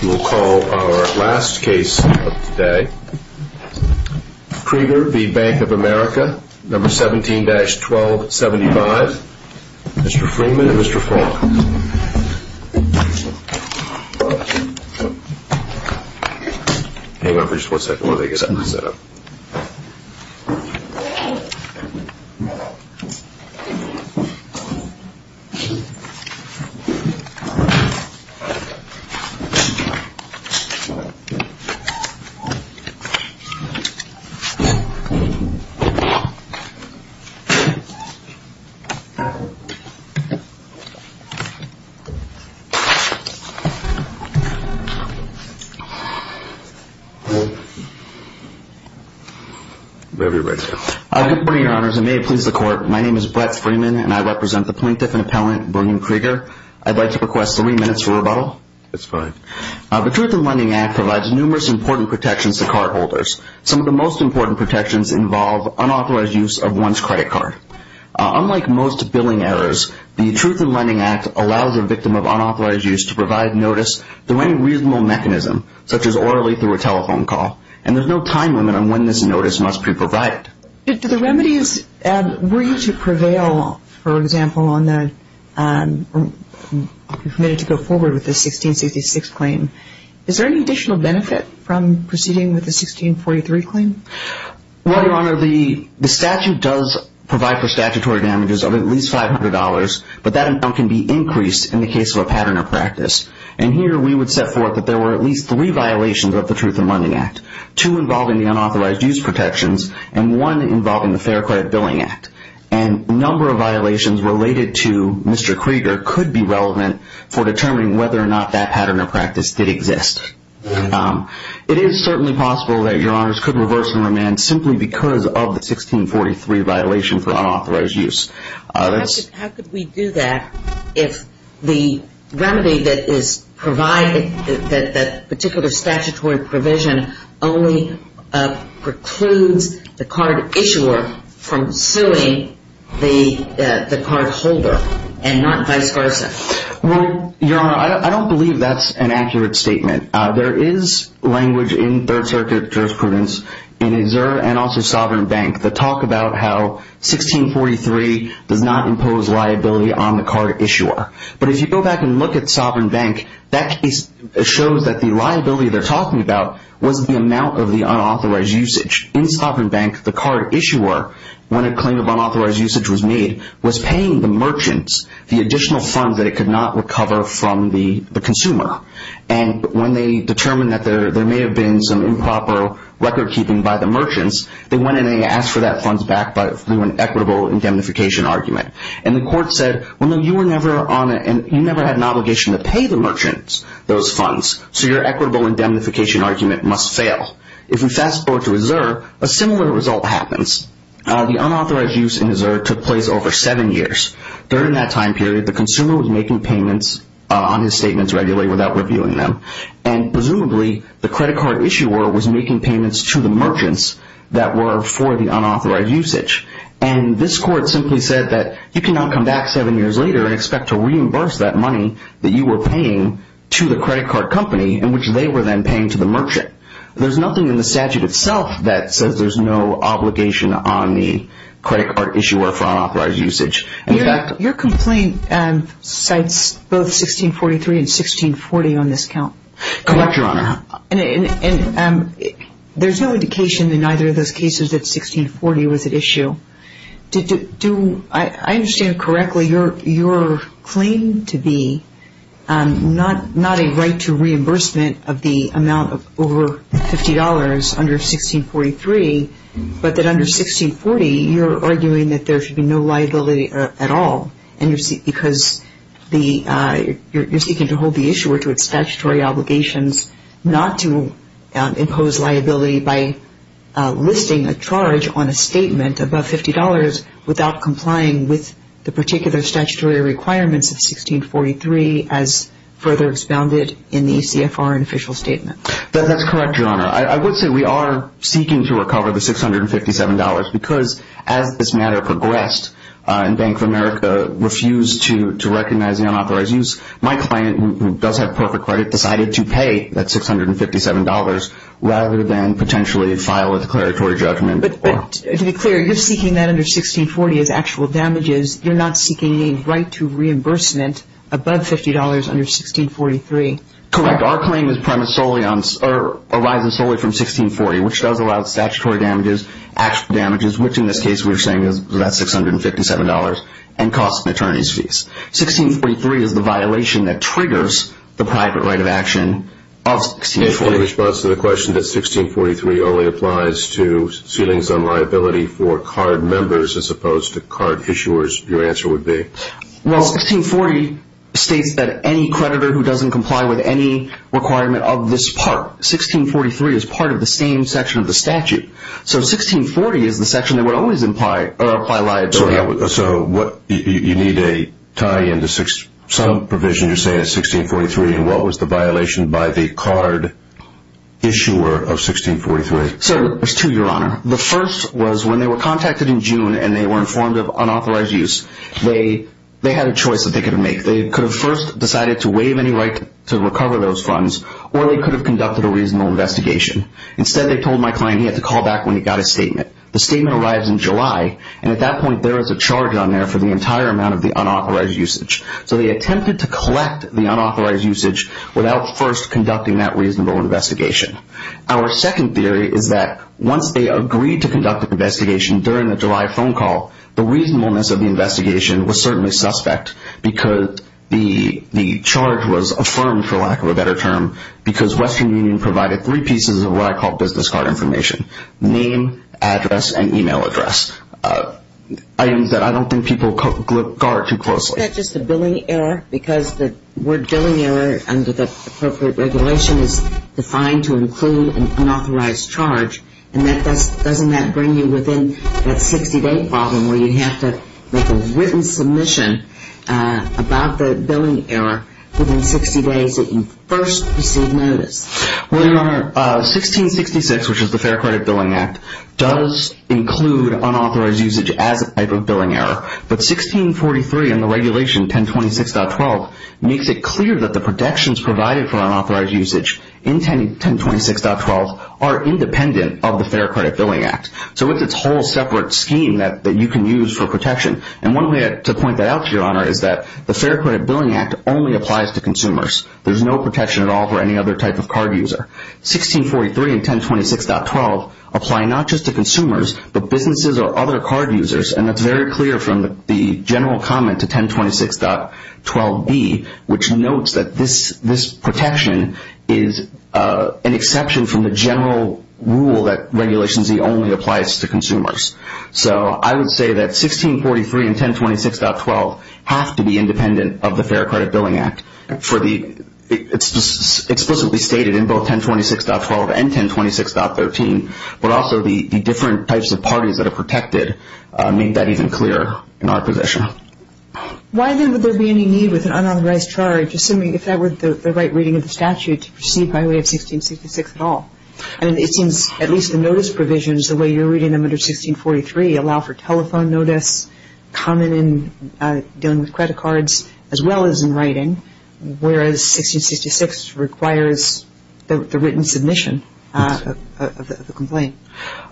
You will call our last case of the day. Krieger v. Bank of America, number 17-1275. Mr. Freeman and Mr. Faulkner. Hang on for just one second while I get that set up. Good morning, Your Honors, and may it please the Court, my name is Brett Freeman and I represent the Plaintiff and Appellant, Brigham Krieger. I'd like to request three minutes for rebuttal. That's fine. The Truth in Lending Act provides numerous important protections to cardholders. Some of the most important protections involve unauthorized use of one's credit card. Unlike most billing errors, the Truth in Lending Act allows a victim of unauthorized use to provide notice through any reasonable mechanism, such as orally through a telephone call, and there's no time limit on when this notice must be provided. Were you to prevail, for example, on the 1666 claim, is there any additional benefit from proceeding with the 1643 claim? Well, Your Honor, the statute does provide for statutory damages of at least $500, but that amount can be increased in the case of a pattern or practice. And here we would set forth that there were at least three violations of the Truth in Lending Act. Two involving the unauthorized use protections, and one involving the Fair Credit Billing Act. And a number of violations related to Mr. Krieger could be relevant for determining whether or not that pattern or practice did exist. It is certainly possible that Your Honors could reverse and remand simply because of the 1643 violation for unauthorized use. How could we do that if the remedy that is provided, that particular statutory provision, only precludes the card issuer from suing the cardholder and not vice versa? Well, Your Honor, I don't believe that's an accurate statement. There is language in Third Circuit jurisprudence in Xer and also Sovereign Bank that talk about how 1643 does not impose liability on the card issuer. But if you go back and look at Sovereign Bank, that case shows that the liability they're talking about was the amount of the unauthorized usage. In Sovereign Bank, the card issuer, when a claim of unauthorized usage was made, was paying the merchants the additional funds that it could not recover from the consumer. And when they determined that there may have been some improper record keeping by the merchants, they went in and they asked for that funds back through an equitable indemnification argument. And the court said, well, no, you were never on it and you never had an obligation to pay the merchants those funds, so your equitable indemnification argument must fail. If we fast forward to Xer, a similar result happens. The unauthorized use in Xer took place over seven years. During that time period, the consumer was making payments on his statements regularly without reviewing them. And presumably, the credit card issuer was making payments to the merchants that were for the unauthorized usage. And this court simply said that you cannot come back seven years later and expect to reimburse that money that you were paying to the credit card company in which they were then paying to the merchant. There's nothing in the statute itself that says there's no obligation on the credit card issuer for unauthorized usage. Your complaint cites both 1643 and 1640 on this count. And there's no indication in either of those cases that 1640 was at issue. I understand correctly your claim to be not a right to reimbursement of the amount of over $50 under 1643, but that under 1640, you're arguing that there should be no liability at all because you're seeking to hold the issuer to its statutory obligation. You're seeking to hold the issuer to its statutory obligations not to impose liability by listing a charge on a statement above $50 without complying with the particular statutory requirements of 1643 as further expounded in the CFR and official statement. That's correct, Your Honor. I would say we are seeking to recover the $657 because as this matter progressed and Bank of America refused to recognize the unauthorized use, my client, who does have perfect credit, decided to pay that $657 rather than potentially file a declaratory judgment. But to be clear, you're seeking that under 1640 as actual damages. You're not seeking a right to reimbursement above $50 under 1643. Correct. Our claim arises solely from 1640, which does allow statutory damages, actual damages, which in this case we're saying is about $657, and costs and attorney's fees. 1643 is the violation that triggers the private right of action of 1640. In response to the question that 1643 only applies to ceilings on liability for card members as opposed to card issuers, your answer would be? Well, 1640 states that any creditor who doesn't comply with any requirement of this part, 1643 is part of the same section of the statute. So 1640 is the section that would always apply liability. So you need a tie-in to some provision you're saying is 1643, and what was the violation by the card issuer of 1643? So there's two, Your Honor. The first was when they were contacted in June and they were informed of unauthorized use, they had a choice that they could have made. They could have first decided to waive any right to recover those funds, or they could have conducted a reasonable investigation. Instead, they told my client he had to call back when he got his statement. The statement arrives in July, and at that point there is a charge on there for the entire amount of the unauthorized usage. So they attempted to collect the unauthorized usage without first conducting that reasonable investigation. Our second theory is that once they agreed to conduct an investigation during the July phone call, the reasonableness of the investigation was certainly suspect because the charge was affirmed, for lack of a better term, because Western Union provided three pieces of what I call business card information. Name, address, and email address. Items that I don't think people guard too closely. Isn't that just a billing error because the word billing error under the appropriate regulation is defined to include an unauthorized charge? And doesn't that bring you within that 60-day problem where you have to make a written submission about the billing error within 60 days that you first receive notice? Well, Your Honor, 1666, which is the Fair Credit Billing Act, does include unauthorized usage as a type of billing error. But 1643 and the regulation 1026.12 makes it clear that the protections provided for unauthorized usage in 1026.12 are independent of the Fair Credit Billing Act. So it's a whole separate scheme that you can use for protection. And one way to point that out, Your Honor, is that the Fair Credit Billing Act only applies to consumers. There's no protection at all for any other type of card user. 1643 and 1026.12 apply not just to consumers, but businesses or other card users. And that's very clear from the general comment to 1026.12b, which notes that this protection is an exception from the general rule that Regulation Z only applies to consumers. So I would say that 1643 and 1026.12 have to be independent of the Fair Credit Billing Act. It's explicitly stated in both 1026.12 and 1026.13, but also the different types of parties that are protected make that even clearer in our position. Why then would there be any need with an unauthorized charge, assuming if that were the right reading of the statute, to proceed by way of 1666 at all? I mean, it seems at least the notice provisions, the way you're reading them under 1643, allow for telephone notice, common in dealing with credit cards, as well as in writing, whereas 1666 requires the written submission of the complaint.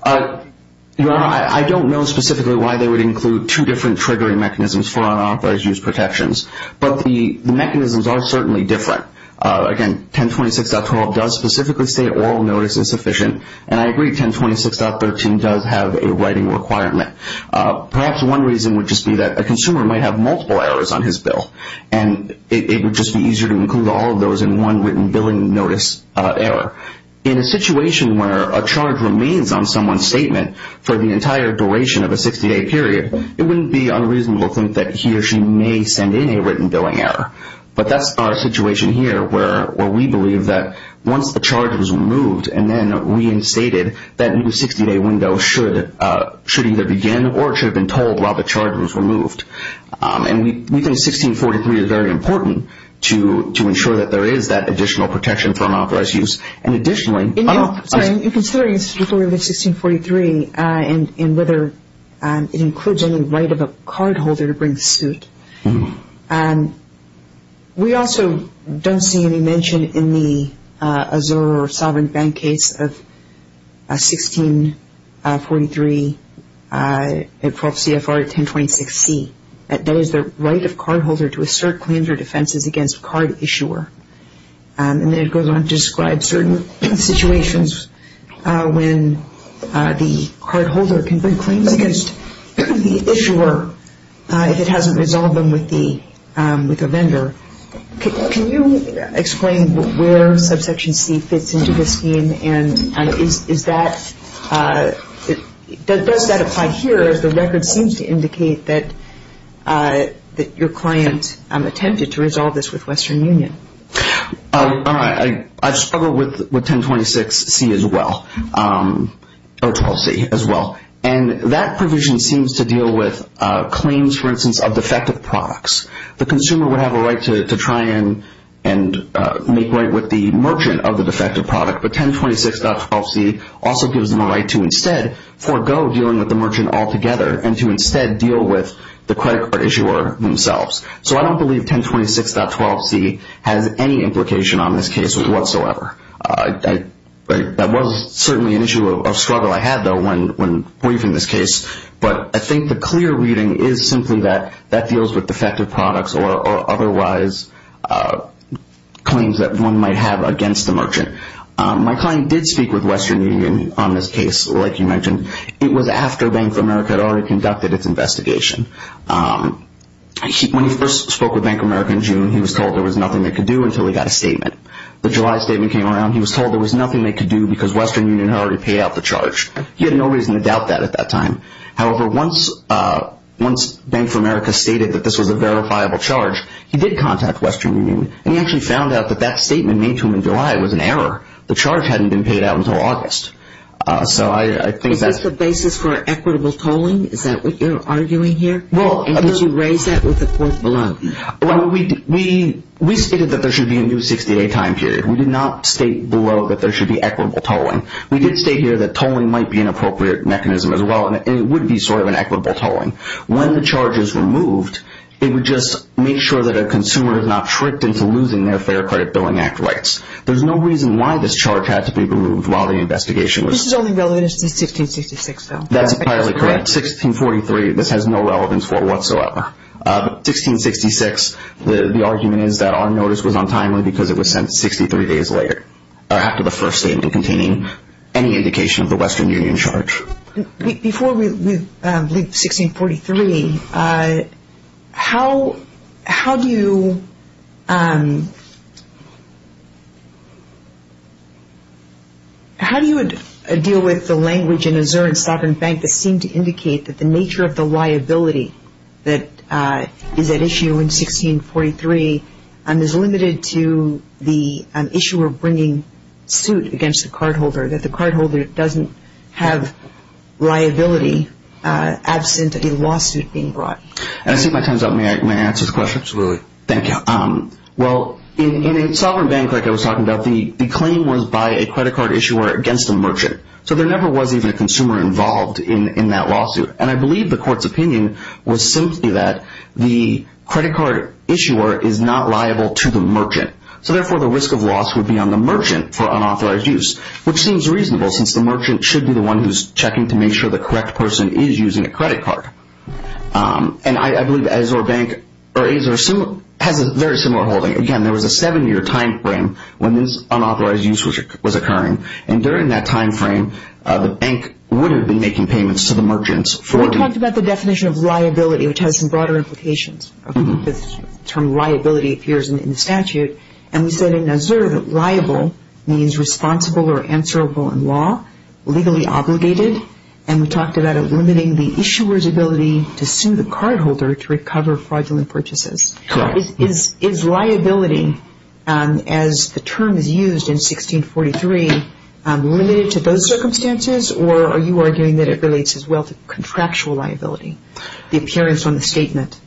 Your Honor, I don't know specifically why they would include two different triggering mechanisms for unauthorized use protections. But the mechanisms are certainly different. Again, 1026.12 does specifically state oral notice is sufficient, and I agree 1026.13 does have a writing requirement. Perhaps one reason would just be that a consumer might have multiple errors on his bill, and it would just be easier to include all of those in one written billing notice error. In a situation where a charge remains on someone's statement for the entire duration of a 60-day period, it wouldn't be unreasonable to think that he or she may send in a written billing error. But that's our situation here, where we believe that once the charge was removed and then reinstated, that new 60-day window should either begin or it should have been told while the charge was removed. And we think 1643 is very important to ensure that there is that additional protection from unauthorized use. And additionally- I'm sorry, in considering the story of 1643 and whether it includes any right of a cardholder to bring suit, we also don't see any mention in the Azure or Sovereign Bank case of 1643, CFR 1026C. That is the right of cardholder to assert claims or defenses against card issuer. And then it goes on to describe certain situations when the cardholder can bring claims against the issuer if it hasn't resolved them with the vendor. Can you explain where subsection C fits into this scheme, and does that apply here, or does the record seem to indicate that your client attempted to resolve this with Western Union? I've struggled with 1026C as well, or 12C as well. And that provision seems to deal with claims, for instance, of defective products. The consumer would have a right to try and make right with the merchant of the defective product, but 1026.12C also gives them a right to instead forego dealing with the merchant altogether and to instead deal with the credit card issuer themselves. So I don't believe 1026.12C has any implication on this case whatsoever. That was certainly an issue of struggle I had, though, when briefing this case. But I think the clear reading is simply that that deals with defective products or otherwise claims that one might have against the merchant. My client did speak with Western Union on this case, like you mentioned. It was after Bank of America had already conducted its investigation. When he first spoke with Bank of America in June, he was told there was nothing they could do until he got a statement. The July statement came around. He was told there was nothing they could do because Western Union had already paid out the charge. He had no reason to doubt that at that time. However, once Bank of America stated that this was a verifiable charge, he did contact Western Union, and he actually found out that that statement made to him in July was an error. The charge hadn't been paid out until August. Is this the basis for equitable tolling? Is that what you're arguing here? And did you raise that with the court below? We stated that there should be a new 60-day time period. We did not state below that there should be equitable tolling. We did state here that tolling might be an appropriate mechanism as well, and it would be sort of an equitable tolling. When the charge is removed, it would just make sure that a consumer is not tricked into losing their Fair Credit Billing Act rights. There's no reason why this charge had to be removed while the investigation was ongoing. This is only relevant to 1666, though. That's entirely correct. 1643, this has no relevance for whatsoever. 1666, the argument is that our notice was untimely because it was sent 63 days later, or after the first statement containing any indication of the Western Union charge. Before we leave 1643, how do you deal with the language in Azur and Sovereign Bank that seemed to indicate that the nature of the liability that is at issue in 1643 is limited to the issuer bringing suit against the cardholder, that the cardholder doesn't have liability absent a lawsuit being brought? I see my time's up. May I answer the question? Absolutely. Thank you. Well, in Sovereign Bank, like I was talking about, the claim was by a credit card issuer against a merchant. So there never was even a consumer involved in that lawsuit. And I believe the court's opinion was simply that the credit card issuer is not liable to the merchant. So therefore, the risk of loss would be on the merchant for unauthorized use, which seems reasonable since the merchant should be the one who's checking to make sure the correct person is using a credit card. And I believe Azur Bank has a very similar holding. Again, there was a seven-year time frame when this unauthorized use was occurring. And during that time frame, the bank would have been making payments to the merchants. We talked about the definition of liability, which has some broader implications. The term liability appears in the statute. And we said in Azur that liable means responsible or answerable in law, legally obligated. And we talked about it limiting the issuer's ability to sue the cardholder to recover fraudulent purchases. Correct. And is liability, as the term is used in 1643, limited to those circumstances, or are you arguing that it relates as well to contractual liability, the appearance on the statement?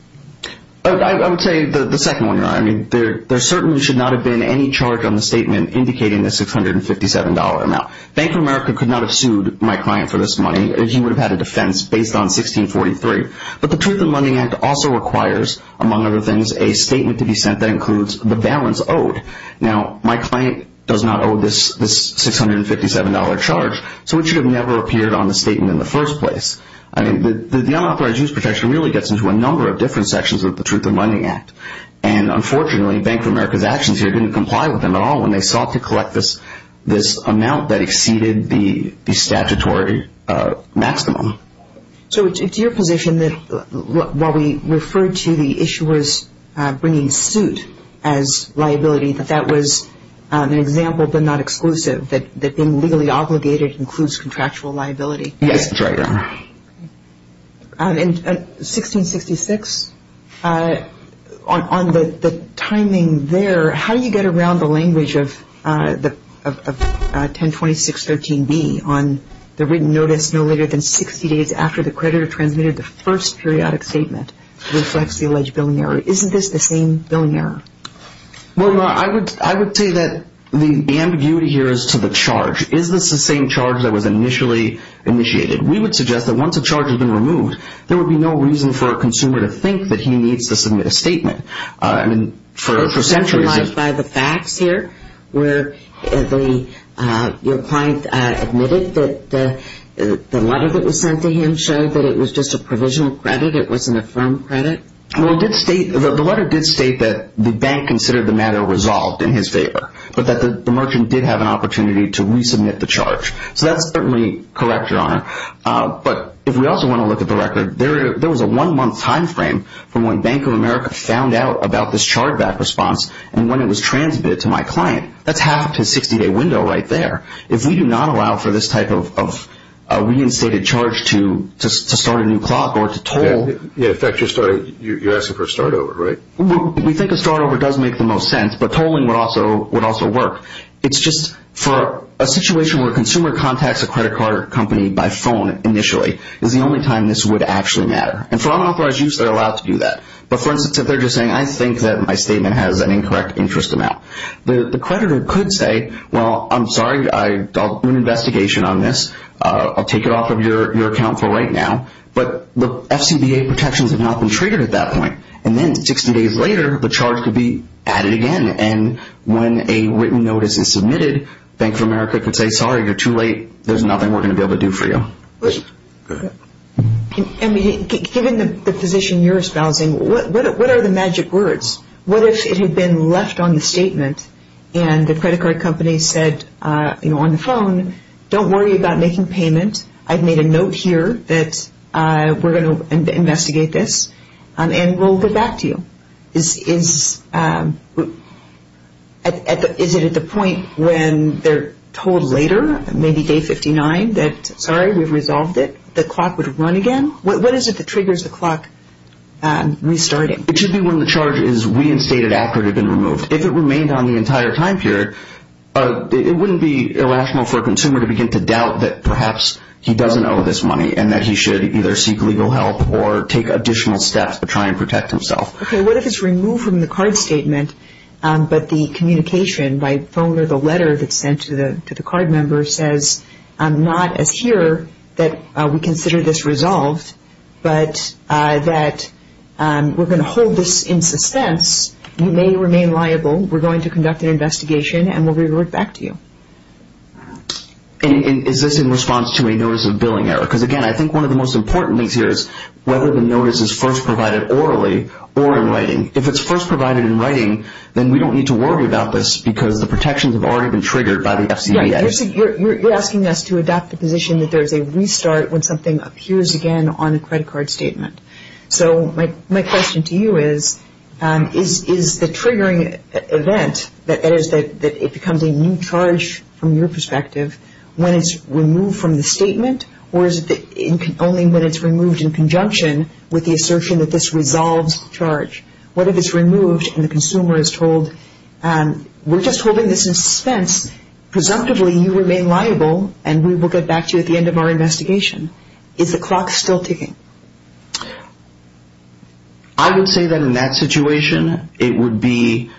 I would tell you the second one. There certainly should not have been any charge on the statement indicating the $657 amount. Bank of America could not have sued my client for this money. He would have had a defense based on 1643. But the Truth in Lending Act also requires, among other things, a statement to be sent that includes the balance owed. Now, my client does not owe this $657 charge, so it should have never appeared on the statement in the first place. I mean, the unauthorized use protection really gets into a number of different sections of the Truth in Lending Act. And unfortunately, Bank of America's actions here didn't comply with them at all when they sought to collect this amount that exceeded the statutory maximum. So it's your position that while we referred to the issuers bringing suit as liability, that that was an example but not exclusive, that being legally obligated includes contractual liability? Yes, that's right. In 1666, on the timing there, how do you get around the language of 1026.13b on the written notice no later than 60 days after the creditor transmitted the first periodic statement reflects the alleged billing error? Isn't this the same billing error? Well, I would say that the ambiguity here is to the charge. Is this the same charge that was initially initiated? We would suggest that once a charge has been removed, there would be no reason for a consumer to think that he needs to submit a statement. Centralized by the facts here where your client admitted that the letter that was sent to him showed that it was just a provisional credit, it wasn't a firm credit? Well, the letter did state that the bank considered the matter resolved in his favor, but that the merchant did have an opportunity to resubmit the charge. So that's certainly correct, Your Honor. But if we also want to look at the record, there was a one-month time frame from when Bank of America found out about this charge back response and when it was transmitted to my client. That's half of his 60-day window right there. If we do not allow for this type of reinstated charge to start a new clock or to toll. Yeah, in fact, you're asking for a start over, right? We think a start over does make the most sense, but tolling would also work. It's just for a situation where a consumer contacts a credit card company by phone initially is the only time this would actually matter. And for unauthorized use, they're allowed to do that. But for instance, if they're just saying, I think that my statement has an incorrect interest amount. The creditor could say, well, I'm sorry, I'll do an investigation on this. I'll take it off of your account for right now. But the FCBA protections have not been treated at that point. And then 60 days later, the charge could be added again. And when a written notice is submitted, Bank of America could say, sorry, you're too late. There's nothing we're going to be able to do for you. And given the position you're espousing, what are the magic words? What if it had been left on the statement and the credit card company said on the phone, don't worry about making payment. I've made a note here that we're going to investigate this and we'll get back to you. Is it at the point when they're told later, maybe day 59, that sorry, we've resolved it, the clock would run again? What is it that triggers the clock restarting? It should be when the charge is reinstated after it had been removed. If it remained on the entire time period, it wouldn't be irrational for a consumer to begin to doubt that perhaps he doesn't owe this money and that he should either seek legal help or take additional steps to try and protect himself. Okay, what if it's removed from the card statement, but the communication by phone or the letter that's sent to the card member says not as here that we consider this resolved, but that we're going to hold this in suspense, you may remain liable, we're going to conduct an investigation, and we'll revert back to you. Is this in response to a notice of billing error? Because, again, I think one of the most important links here is whether the notice is first provided orally or in writing. If it's first provided in writing, then we don't need to worry about this because the protections have already been triggered by the FCDA. You're asking us to adopt the position that there's a restart when something appears again on a credit card statement. So my question to you is, is the triggering event that it becomes a new charge from your perspective when it's removed from the statement, or is it only when it's removed in conjunction with the assertion that this resolves the charge? What if it's removed and the consumer is told, we're just holding this in suspense, presumptively you remain liable, and we will get back to you at the end of our investigation. Is the clock still ticking? I would say that in that situation, it would be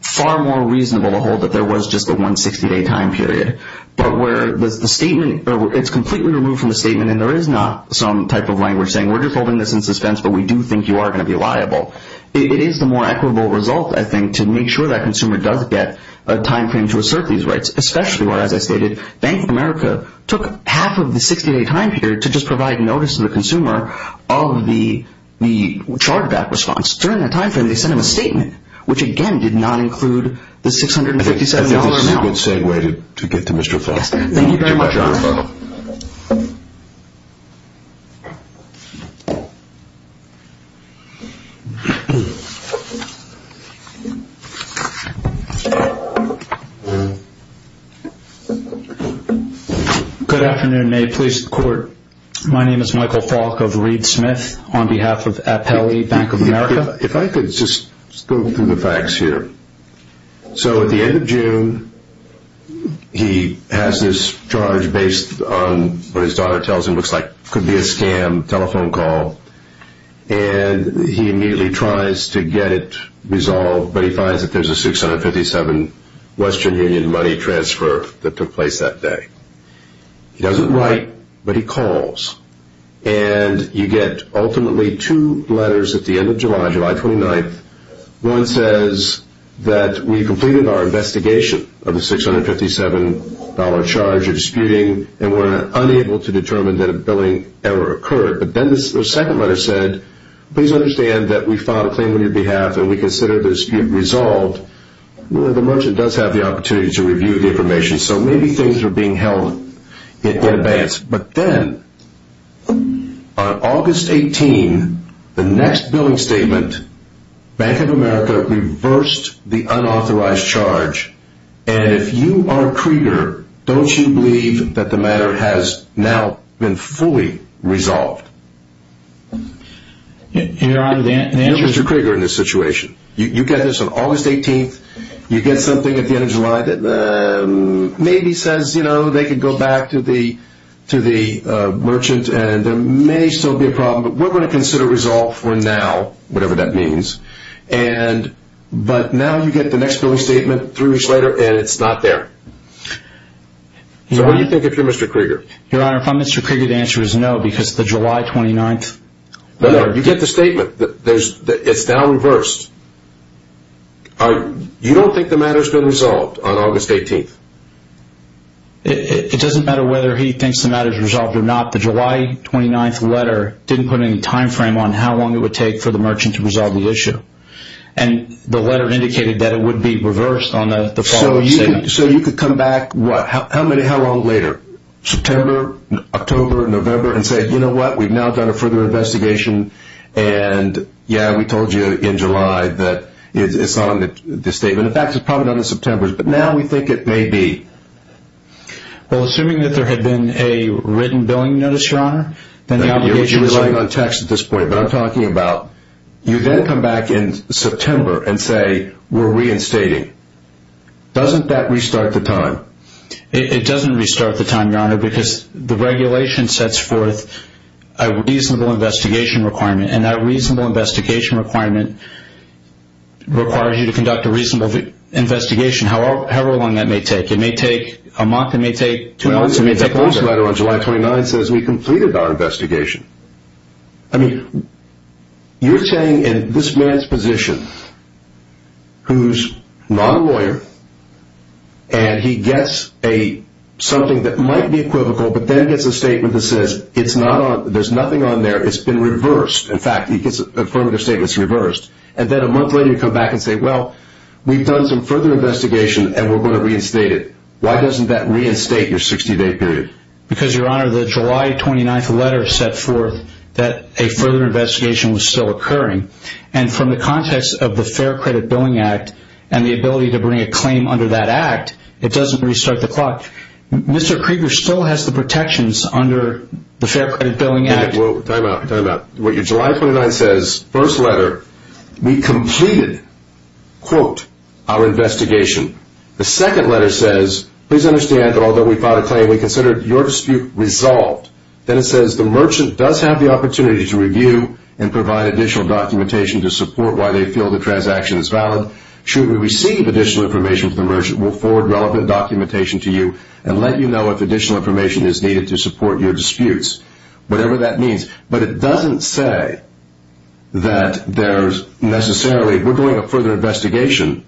far more reasonable to hold that there was just a 160-day time period. But where it's completely removed from the statement and there is not some type of language saying, we're just holding this in suspense, but we do think you are going to be liable. It is the more equitable result, I think, to make sure that consumer does get a time frame to assert these rights. Especially where, as I stated, Bank of America took half of the 60-day time period to just provide notice to the consumer of the chargeback response. During that time frame, they sent him a statement, which again did not include the $657 amount. That's a good segue to get to Mr. Falk. Thank you very much. Good afternoon. May it please the Court. My name is Michael Falk of Reed Smith on behalf of Appellee Bank of America. If I could just go through the facts here. So at the end of June, he has this charge based on what his daughter tells him looks like could be a scam telephone call. And he immediately tries to get it resolved, but he finds that there is a $657 Western Union money transfer that took place that day. He doesn't write, but he calls. And you get ultimately two letters at the end of July, July 29th. One says that we completed our investigation of the $657 charge of disputing and were unable to determine that a billing error occurred. But then the second letter said, please understand that we filed a claim on your behalf and we consider the dispute resolved. The merchant does have the opportunity to review the information, so maybe things are being held in advance. But then on August 18th, the next billing statement, Bank of America reversed the unauthorized charge. And if you are Krieger, don't you believe that the matter has now been fully resolved? You're Mr. Krieger in this situation. You get this on August 18th. You get something at the end of July that maybe says they can go back to the merchant and there may still be a problem, but we're going to consider resolved for now, whatever that means. But now you get the next billing statement three weeks later and it's not there. So what do you think if you're Mr. Krieger? Your Honor, if I'm Mr. Krieger, the answer is no, because the July 29th... You get the statement that it's now reversed. You don't think the matter's been resolved on August 18th? It doesn't matter whether he thinks the matter's resolved or not. The July 29th letter didn't put any time frame on how long it would take for the merchant to resolve the issue. And the letter indicated that it would be reversed on the following statement. So you could come back, how long later? September, October, November and say, you know what, we've now done a further investigation and yeah, we told you in July that it's not on the statement. In fact, it's probably not in September, but now we think it may be. Well, assuming that there had been a written billing notice, Your Honor, then the obligation... You're relying on text at this point, but I'm talking about you then come back in September and say we're reinstating. Doesn't that restart the time? It doesn't restart the time, Your Honor, because the regulation sets forth a reasonable investigation requirement and that reasonable investigation requirement requires you to conduct a reasonable investigation, however long that may take. It may take a month, it may take two months, it may take longer. The post letter on July 29th says we completed our investigation. I mean, you're saying in this man's position, who's not a lawyer, and he gets something that might be equivocal, but then gets a statement that says there's nothing on there, it's been reversed. In fact, he gets an affirmative statement, it's reversed. And then a month later you come back and say, well, we've done some further investigation and we're going to reinstate it. Why doesn't that reinstate your 60-day period? Because, Your Honor, the July 29th letter set forth that a further investigation was still occurring. And from the context of the Fair Credit Billing Act and the ability to bring a claim under that act, it doesn't restart the clock. Mr. Krieger still has the protections under the Fair Credit Billing Act. Time out, time out. What your July 29th says, first letter, we completed, quote, our investigation. The second letter says, please understand that although we filed a claim, we considered your dispute resolved. Then it says the merchant does have the opportunity to review and provide additional documentation to support why they feel the transaction is valid. Should we receive additional information from the merchant, we'll forward relevant documentation to you and let you know if additional information is needed to support your disputes, whatever that means. But it doesn't say that there's necessarily, we're doing a further investigation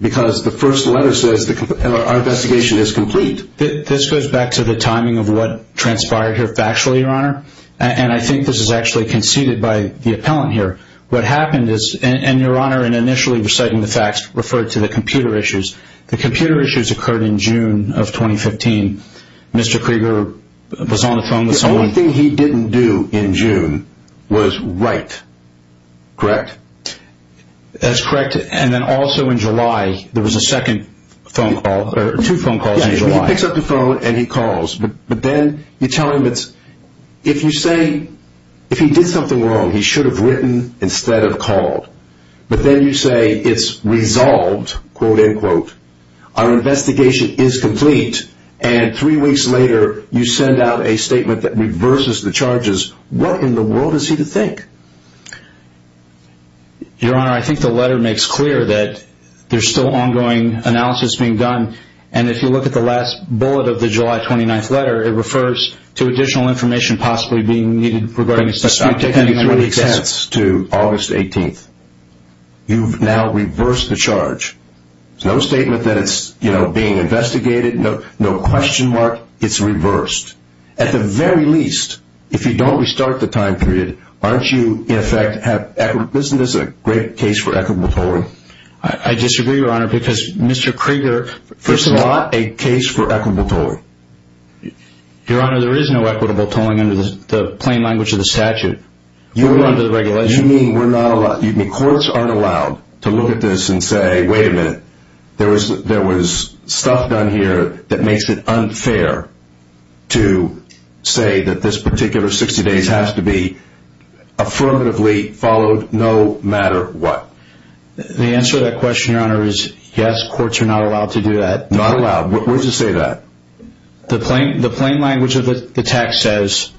because the first letter says our investigation is complete. This goes back to the timing of what transpired here factually, Your Honor. And I think this is actually conceded by the appellant here. What happened is, and Your Honor, in initially reciting the facts, referred to the computer issues. The computer issues occurred in June of 2015. Mr. Krieger was on the phone with someone. The only thing he didn't do in June was write, correct? That's correct. And then also in July, there was a second phone call, or two phone calls in July. Yeah, he picks up the phone and he calls. But then you tell him it's, if you say, if he did something wrong, he should have written instead of called. But then you say it's resolved, quote, end quote. Our investigation is complete. And three weeks later, you send out a statement that reverses the charges. What in the world is he to think? Your Honor, I think the letter makes clear that there's still ongoing analysis being done. And if you look at the last bullet of the July 29th letter, it refers to additional information possibly being needed regarding a suspect. I'm taking you through the extents to August 18th. You've now reversed the charge. There's no statement that it's, you know, being investigated. No question mark. It's reversed. At the very least, if you don't restart the time period, aren't you in effect, isn't this a great case for equitable tolling? I disagree, Your Honor, because Mr. Krieger This is not a case for equitable tolling. Your Honor, there is no equitable tolling under the plain language of the statute. You mean courts aren't allowed to look at this and say, wait a minute, there was stuff done here that makes it unfair to say that this particular 60 days has to be affirmatively followed no matter what. The answer to that question, Your Honor, is yes, courts are not allowed to do that. Not allowed. Where does it say that? The plain language of the text says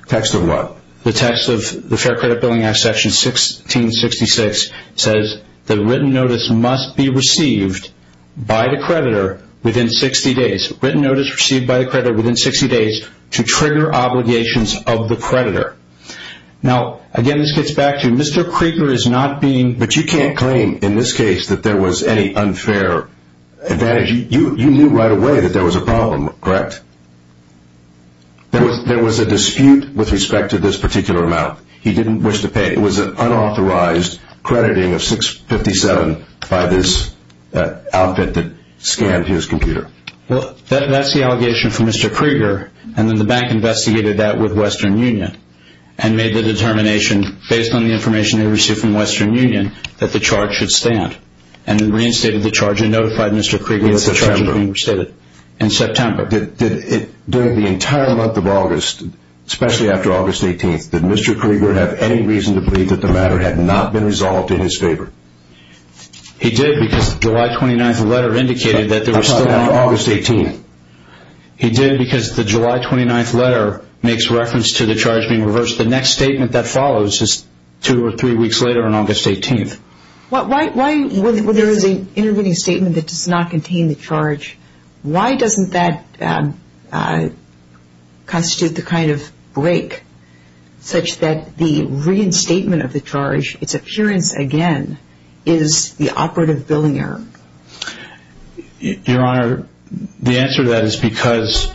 The text of what? The text of the Fair Credit Billing Act, Section 1666, says that written notice must be received by the creditor within 60 days. Written notice received by the creditor within 60 days to trigger obligations of the creditor. Now, again, this gets back to Mr. Krieger is not being But you can't claim in this case that there was any unfair advantage. You knew right away that there was a problem, correct? There was a dispute with respect to this particular amount. He didn't wish to pay. It was an unauthorized crediting of 657 by this outfit that scanned his computer. Well, that's the allegation from Mr. Krieger, and then the bank investigated that with Western Union and made the determination based on the information they received from Western Union that the charge should stand and reinstated the charge and notified Mr. Krieger of the charge being reinstated in September. During the entire month of August, especially after August 18th, did Mr. Krieger have any reason to believe that the matter had not been resolved in his favor? He did because the July 29th letter indicated that it was still on August 18th. He did because the July 29th letter makes reference to the charge being reversed. The next statement that follows is two or three weeks later on August 18th. Why, when there is an intervening statement that does not contain the charge, why doesn't that constitute the kind of break such that the reinstatement of the charge, its appearance again, is the operative billing error? Your Honor, the answer to that is because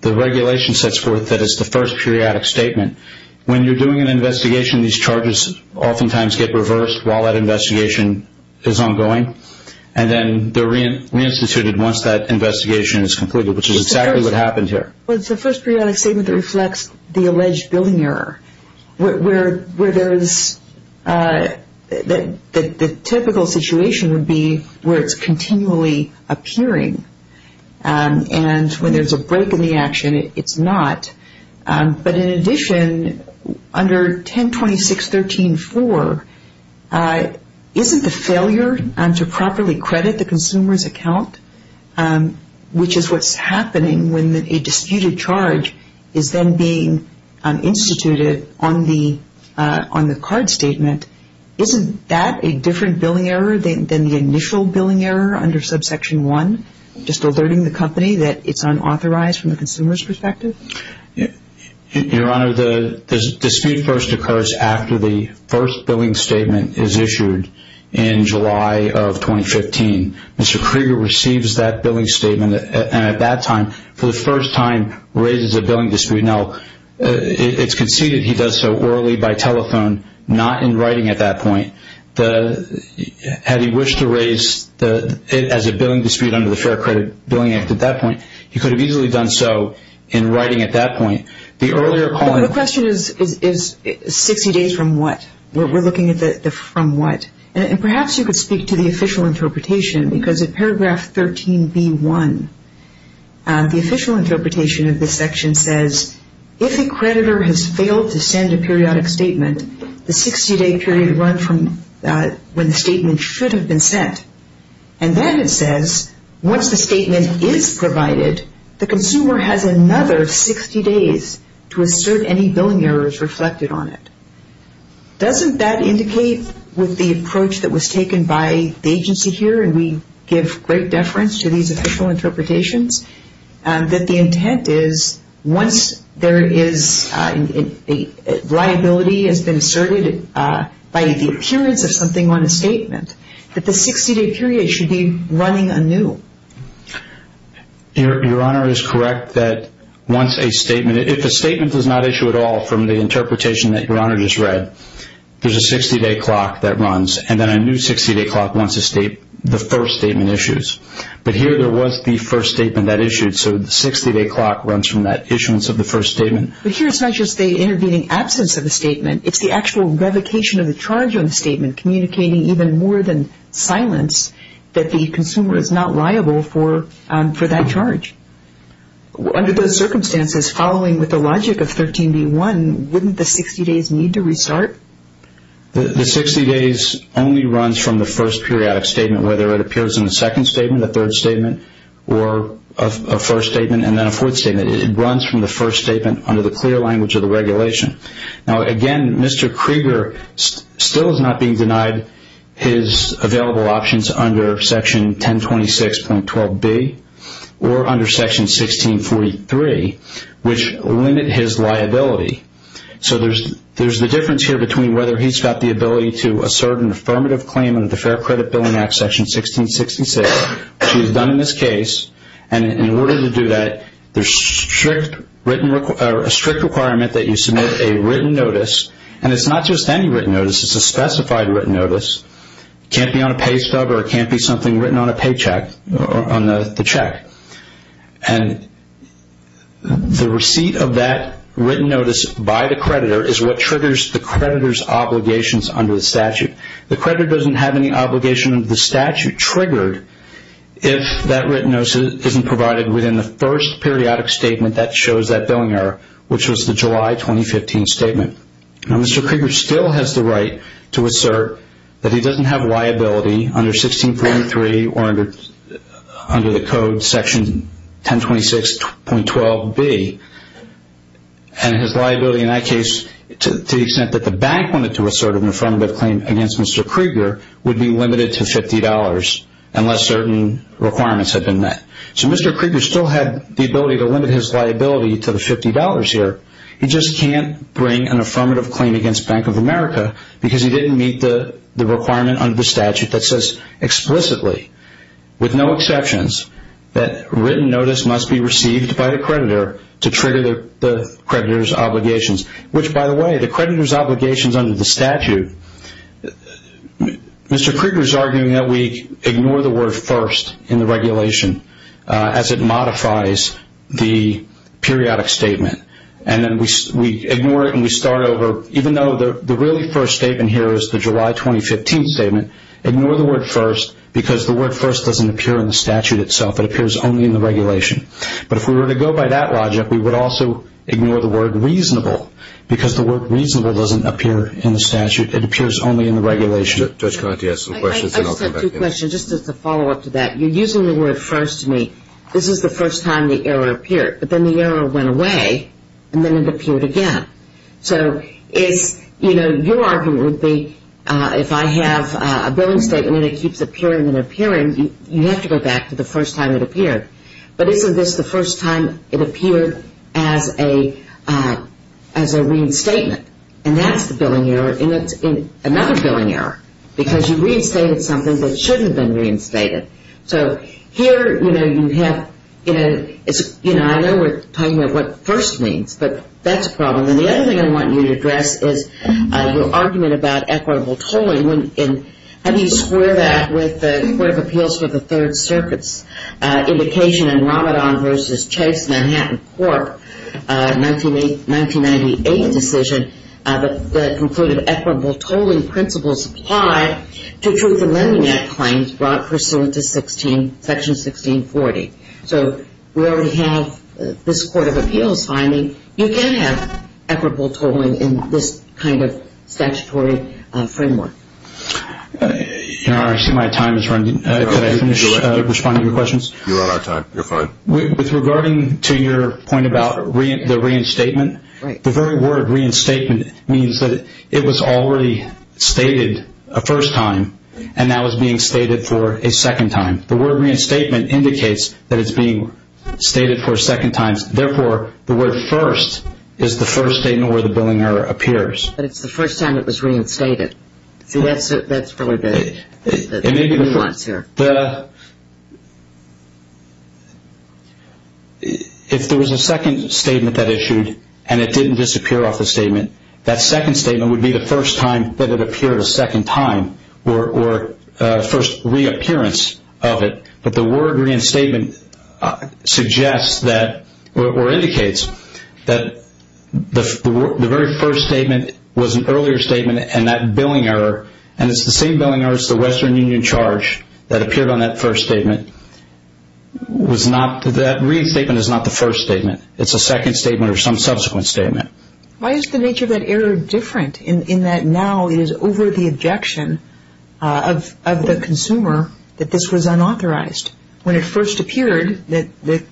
the regulation sets forth that it's the first periodic statement. When you're doing an investigation, these charges oftentimes get reversed while that investigation is ongoing, and then they're reinstituted once that investigation is completed, which is exactly what happened here. Well, it's the first periodic statement that reflects the alleged billing error, where the typical situation would be where it's continually appearing, and when there's a break in the action, it's not. But in addition, under 1026.13.4, isn't the failure to properly credit the consumer's account, which is what's happening when a disputed charge is then being instituted on the card statement, isn't that a different billing error than the initial billing error under subsection 1, just alerting the company that it's unauthorized from the consumer's perspective? Your Honor, the dispute first occurs after the first billing statement is issued in July of 2015. Mr. Krieger receives that billing statement, and at that time, for the first time, raises a billing dispute. Now, it's conceded he does so orally by telephone, not in writing at that point. Had he wished to raise it as a billing dispute under the Fair Credit Billing Act at that point, he could have easily done so in writing at that point. The earlier call- The question is 60 days from what? We're looking at the from what? And perhaps you could speak to the official interpretation, because at paragraph 13b.1, the official interpretation of this section says, if a creditor has failed to send a periodic statement, the 60-day period runs from when the statement should have been sent. And then it says, once the statement is provided, the consumer has another 60 days to assert any billing errors reflected on it. Doesn't that indicate with the approach that was taken by the agency here, and we give great deference to these official interpretations, that the intent is once there is liability has been asserted by the appearance of something on a statement, that the 60-day period should be running anew? Your Honor is correct that once a statement- from the interpretation that Your Honor just read, there's a 60-day clock that runs, and then a new 60-day clock once the first statement issues. But here there was the first statement that issued, so the 60-day clock runs from that issuance of the first statement. But here it's not just the intervening absence of the statement, it's the actual revocation of the charge on the statement, communicating even more than silence that the consumer is not liable for that charge. Under those circumstances, following with the logic of 13b.1, wouldn't the 60 days need to restart? The 60 days only runs from the first periodic statement, whether it appears in the second statement, the third statement, or a first statement, and then a fourth statement. It runs from the first statement under the clear language of the regulation. Now again, Mr. Krieger still is not being denied his available options under section 1026.12b, or under section 1643, which limit his liability. So there's the difference here between whether he's got the ability to assert an affirmative claim under the Fair Credit Billing Act section 1666, which he's done in this case, and in order to do that, there's a strict requirement that you submit a written notice, and it's not just any written notice, it's a specified written notice. It can't be on a pay stub or it can't be something written on a paycheck, on the check. And the receipt of that written notice by the creditor is what triggers the creditor's obligations under the statute. The creditor doesn't have any obligation under the statute triggered if that written notice isn't provided within the first periodic statement that shows that billing error, which was the July 2015 statement. Now Mr. Krieger still has the right to assert that he doesn't have liability under 1643 or under the code section 1026.12b, and his liability in that case, to the extent that the bank wanted to assert an affirmative claim against Mr. Krieger, would be limited to $50 unless certain requirements had been met. So Mr. Krieger still had the ability to limit his liability to the $50 here. He just can't bring an affirmative claim against Bank of America because he didn't meet the requirement under the statute that says explicitly, with no exceptions, that written notice must be received by the creditor to trigger the creditor's obligations. Which, by the way, the creditor's obligations under the statute, Mr. Krieger's arguing that we ignore the word first in the regulation as it modifies the periodic statement. And then we ignore it and we start over. Even though the really first statement here is the July 2015 statement, ignore the word first because the word first doesn't appear in the statute itself. It appears only in the regulation. But if we were to go by that logic, we would also ignore the word reasonable because the word reasonable doesn't appear in the statute. It appears only in the regulation. I just have two questions just as a follow-up to that. You're using the word first to me. This is the first time the error appeared. But then the error went away and then it appeared again. So your argument would be if I have a billing statement and it keeps appearing and appearing, you have to go back to the first time it appeared. But isn't this the first time it appeared as a lien statement? And that's the billing error, and that's another billing error because you reinstated something that shouldn't have been reinstated. So here, you know, you have, you know, I know we're talking about what first means, but that's a problem. And the other thing I want you to address is your argument about equitable tolling. How do you square that with the Court of Appeals for the Third Circuit's indication in Ramadan v. Chase Manhattan Court 1998 decision that concluded equitable tolling principles apply to Truth in Lending Act claims brought pursuant to Section 1640? So we already have this Court of Appeals finding. You can have equitable tolling in this kind of statutory framework. I see my time is running. Can I finish responding to your questions? You're on our time. You're fine. With regarding to your point about the reinstatement, the very word reinstatement means that it was already stated a first time and now is being stated for a second time. The word reinstatement indicates that it's being stated for a second time. Therefore, the word first is the first statement where the billing error appears. But it's the first time it was reinstated. See, that's really the nuance here. If there was a second statement that issued and it didn't disappear off the statement, that second statement would be the first time that it appeared a second time or first reappearance of it. But the word reinstatement indicates that the very first statement was an earlier statement and it's the same billing error as the Western Union charge that appeared on that first statement. That reinstatement is not the first statement. It's a second statement or some subsequent statement. Why is the nature of that error different in that now it is over the objection of the consumer that this was unauthorized? When it first appeared, the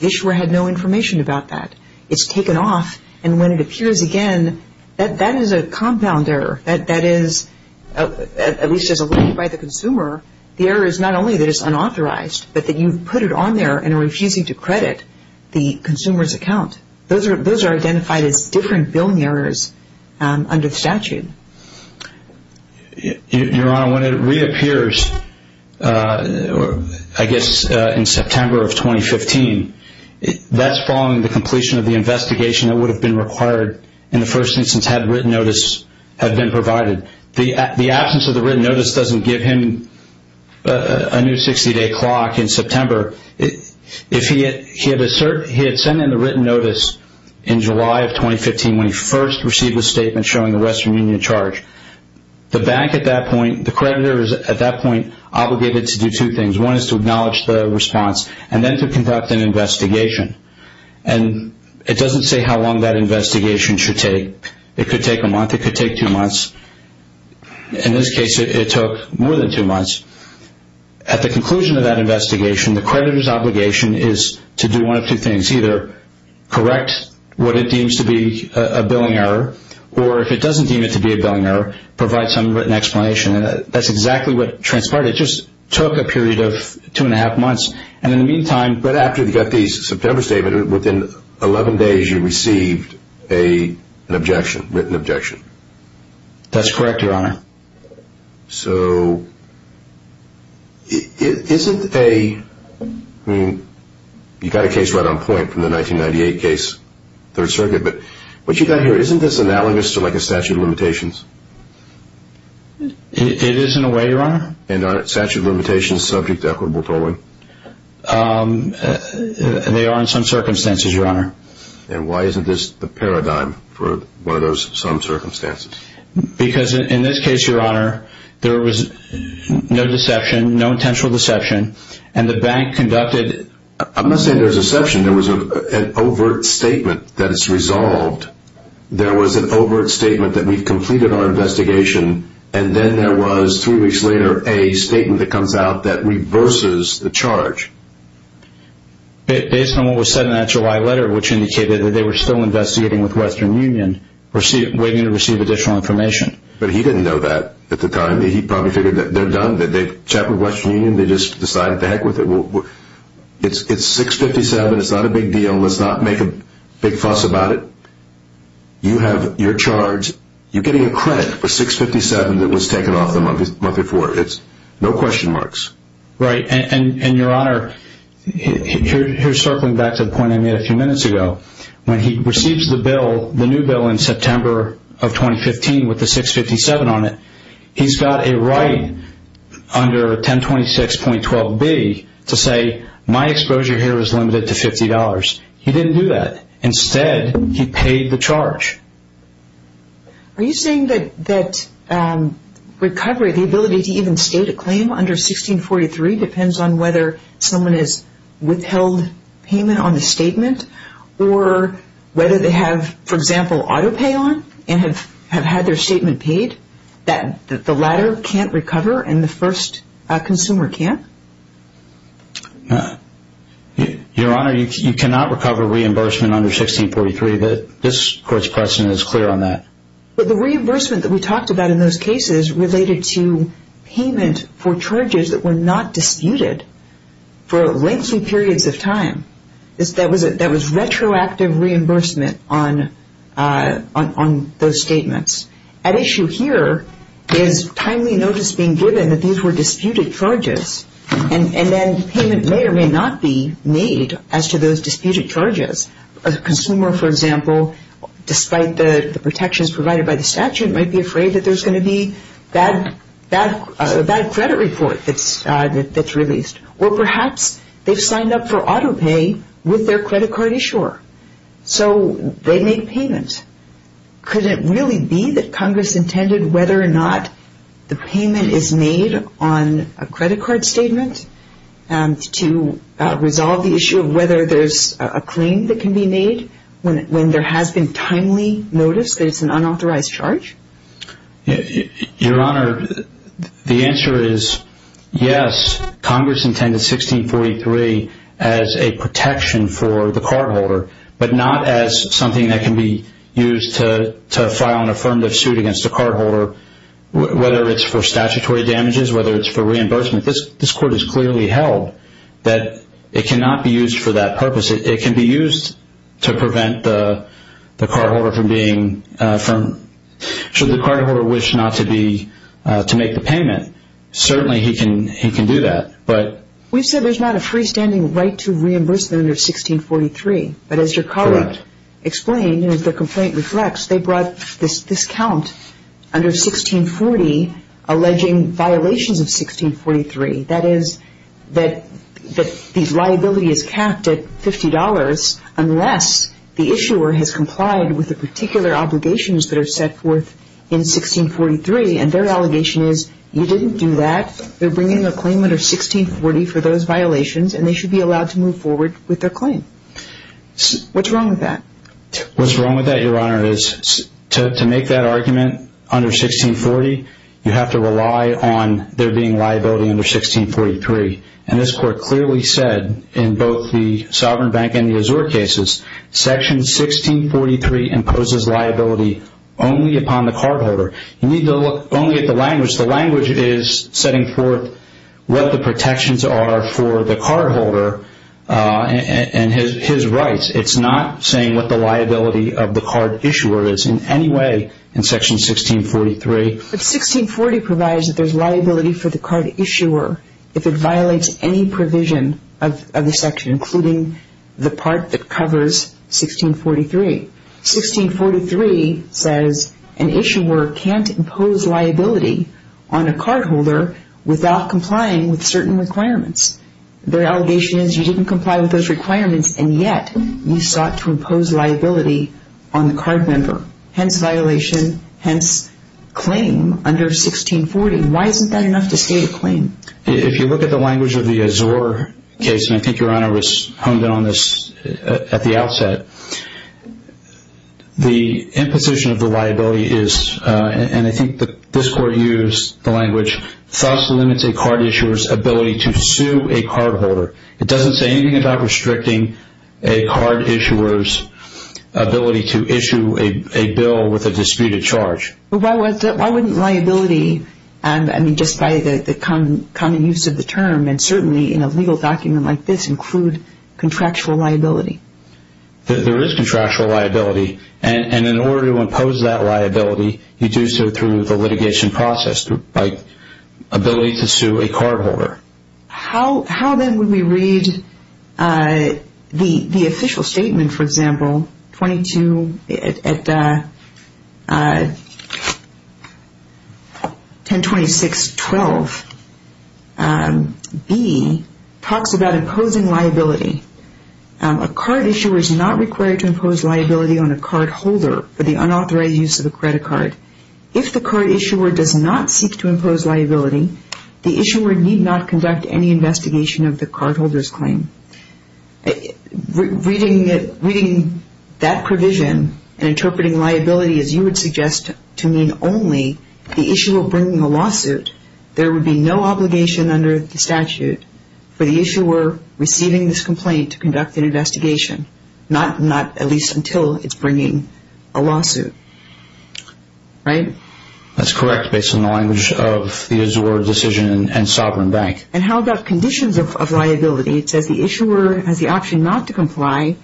issuer had no information about that. It's taken off. And when it appears again, that is a compound error. That is, at least as alluded by the consumer, the error is not only that it's unauthorized, but that you've put it on there and are refusing to credit the consumer's account. Those are identified as different billing errors under the statute. Your Honor, when it reappears, I guess in September of 2015, that's following the completion of the investigation that would have been required in the first instance had written notice had been provided. The absence of the written notice doesn't give him a new 60-day clock in September. If he had sent in the written notice in July of 2015 when he first received the statement showing the rest from union charge, the bank at that point, the creditor is at that point obligated to do two things. One is to acknowledge the response and then to conduct an investigation. And it doesn't say how long that investigation should take. It could take a month. It could take two months. In this case, it took more than two months. At the conclusion of that investigation, the creditor's obligation is to do one of two things. Either correct what it deems to be a billing error, or if it doesn't deem it to be a billing error, provide some written explanation. That's exactly what transpired. It just took a period of two and a half months. And in the meantime – But after you got the September statement, within 11 days you received an objection, written objection. That's correct, Your Honor. So, isn't a – I mean, you got a case right on point from the 1998 case, Third Circuit, but what you got here, isn't this analogous to like a statute of limitations? It is in a way, Your Honor. And aren't statute of limitations subject to equitable tolling? They are in some circumstances, Your Honor. And why isn't this the paradigm for one of those some circumstances? Because in this case, Your Honor, there was no deception, no intentional deception, and the bank conducted – I'm not saying there was deception. There was an overt statement that is resolved. There was an overt statement that we've completed our investigation, and then there was, three weeks later, a statement that comes out that reverses the charge. Based on what was said in that July letter, which indicated that they were still investigating with Western Union, waiting to receive additional information. But he didn't know that at the time. He probably figured that they're done, that they've chatted with Western Union. They just decided to heck with it. It's 657. It's not a big deal. Let's not make a big fuss about it. You have your charge. You're getting a credit for 657 that was taken off the month before. It's no question marks. Right. And, Your Honor, here's circling back to the point I made a few minutes ago. When he receives the bill, the new bill in September of 2015 with the 657 on it, he's got a right under 1026.12b to say, my exposure here is limited to $50. He didn't do that. Instead, he paid the charge. Are you saying that recovery, the ability to even state a claim under 1643, depends on whether someone has withheld payment on the statement or whether they have, for example, auto pay on and have had their statement paid, that the latter can't recover and the first consumer can't? Your Honor, you cannot recover reimbursement under 1643. This Court's question is clear on that. The reimbursement that we talked about in those cases related to payment for charges that were not disputed for lengthy periods of time. That was retroactive reimbursement on those statements. At issue here is timely notice being given that these were disputed charges, and then payment may or may not be made as to those disputed charges. A consumer, for example, despite the protections provided by the statute, might be afraid that there's going to be a bad credit report that's released. Or perhaps they've signed up for auto pay with their credit card issuer, so they make payment. Could it really be that Congress intended whether or not the payment is made on a credit card statement to resolve the issue of whether there's a claim that can be made when there has been timely notice that it's an unauthorized charge? Your Honor, the answer is yes. Congress intended 1643 as a protection for the cardholder, but not as something that can be used to file an affirmative suit against the cardholder, whether it's for statutory damages, whether it's for reimbursement. This Court has clearly held that it cannot be used for that purpose. It can be used to prevent the cardholder from being firm. Should the cardholder wish not to make the payment, certainly he can do that. We've said there's not a freestanding right to reimbursement under 1643, but as your colleague explained and as the complaint reflects, they brought this count under 1640 alleging violations of 1643. That is that the liability is capped at $50 unless the issuer has complied with the particular obligations that are set forth in 1643, and their allegation is you didn't do that. They're bringing a claim under 1640 for those violations, and they should be allowed to move forward with their claim. What's wrong with that? What's wrong with that, Your Honor, is to make that argument under 1640, you have to rely on there being liability under 1643, and this Court clearly said in both the Sovereign Bank and the Azure cases, Section 1643 imposes liability only upon the cardholder. You need to look only at the language. The language is setting forth what the protections are for the cardholder and his rights. It's not saying what the liability of the card issuer is in any way in Section 1643. But 1640 provides that there's liability for the card issuer if it violates any provision of the section, including the part that covers 1643. 1643 says an issuer can't impose liability on a cardholder without complying with certain requirements. Their allegation is you didn't comply with those requirements, and yet you sought to impose liability on the card member, hence violation, hence claim under 1640. Why isn't that enough to state a claim? If you look at the language of the Azure case, and I think Your Honor was honed in on this at the outset, the imposition of the liability is, and I think this Court used the language, thus limits a card issuer's ability to sue a cardholder. It doesn't say anything about restricting a card issuer's ability to issue a bill with a disputed charge. Why wouldn't liability, I mean, just by the common use of the term, and certainly in a legal document like this, include contractual liability? There is contractual liability. And in order to impose that liability, you do so through the litigation process, by ability to sue a cardholder. How then would we read the official statement, for example, 1026.12b, talks about imposing liability. A card issuer is not required to impose liability on a cardholder for the unauthorized use of a credit card. If the card issuer does not seek to impose liability, the issuer need not conduct any investigation of the cardholder's claim. Reading that provision and interpreting liability as you would suggest to mean only the issuer bringing a lawsuit, there would be no obligation under the statute for the issuer receiving this complaint to conduct an investigation, not at least until it's bringing a lawsuit, right? That's correct, based on the language of the Azure Decision and Sovereign Bank. And how about conditions of liability? It says the issuer has the option not to comply.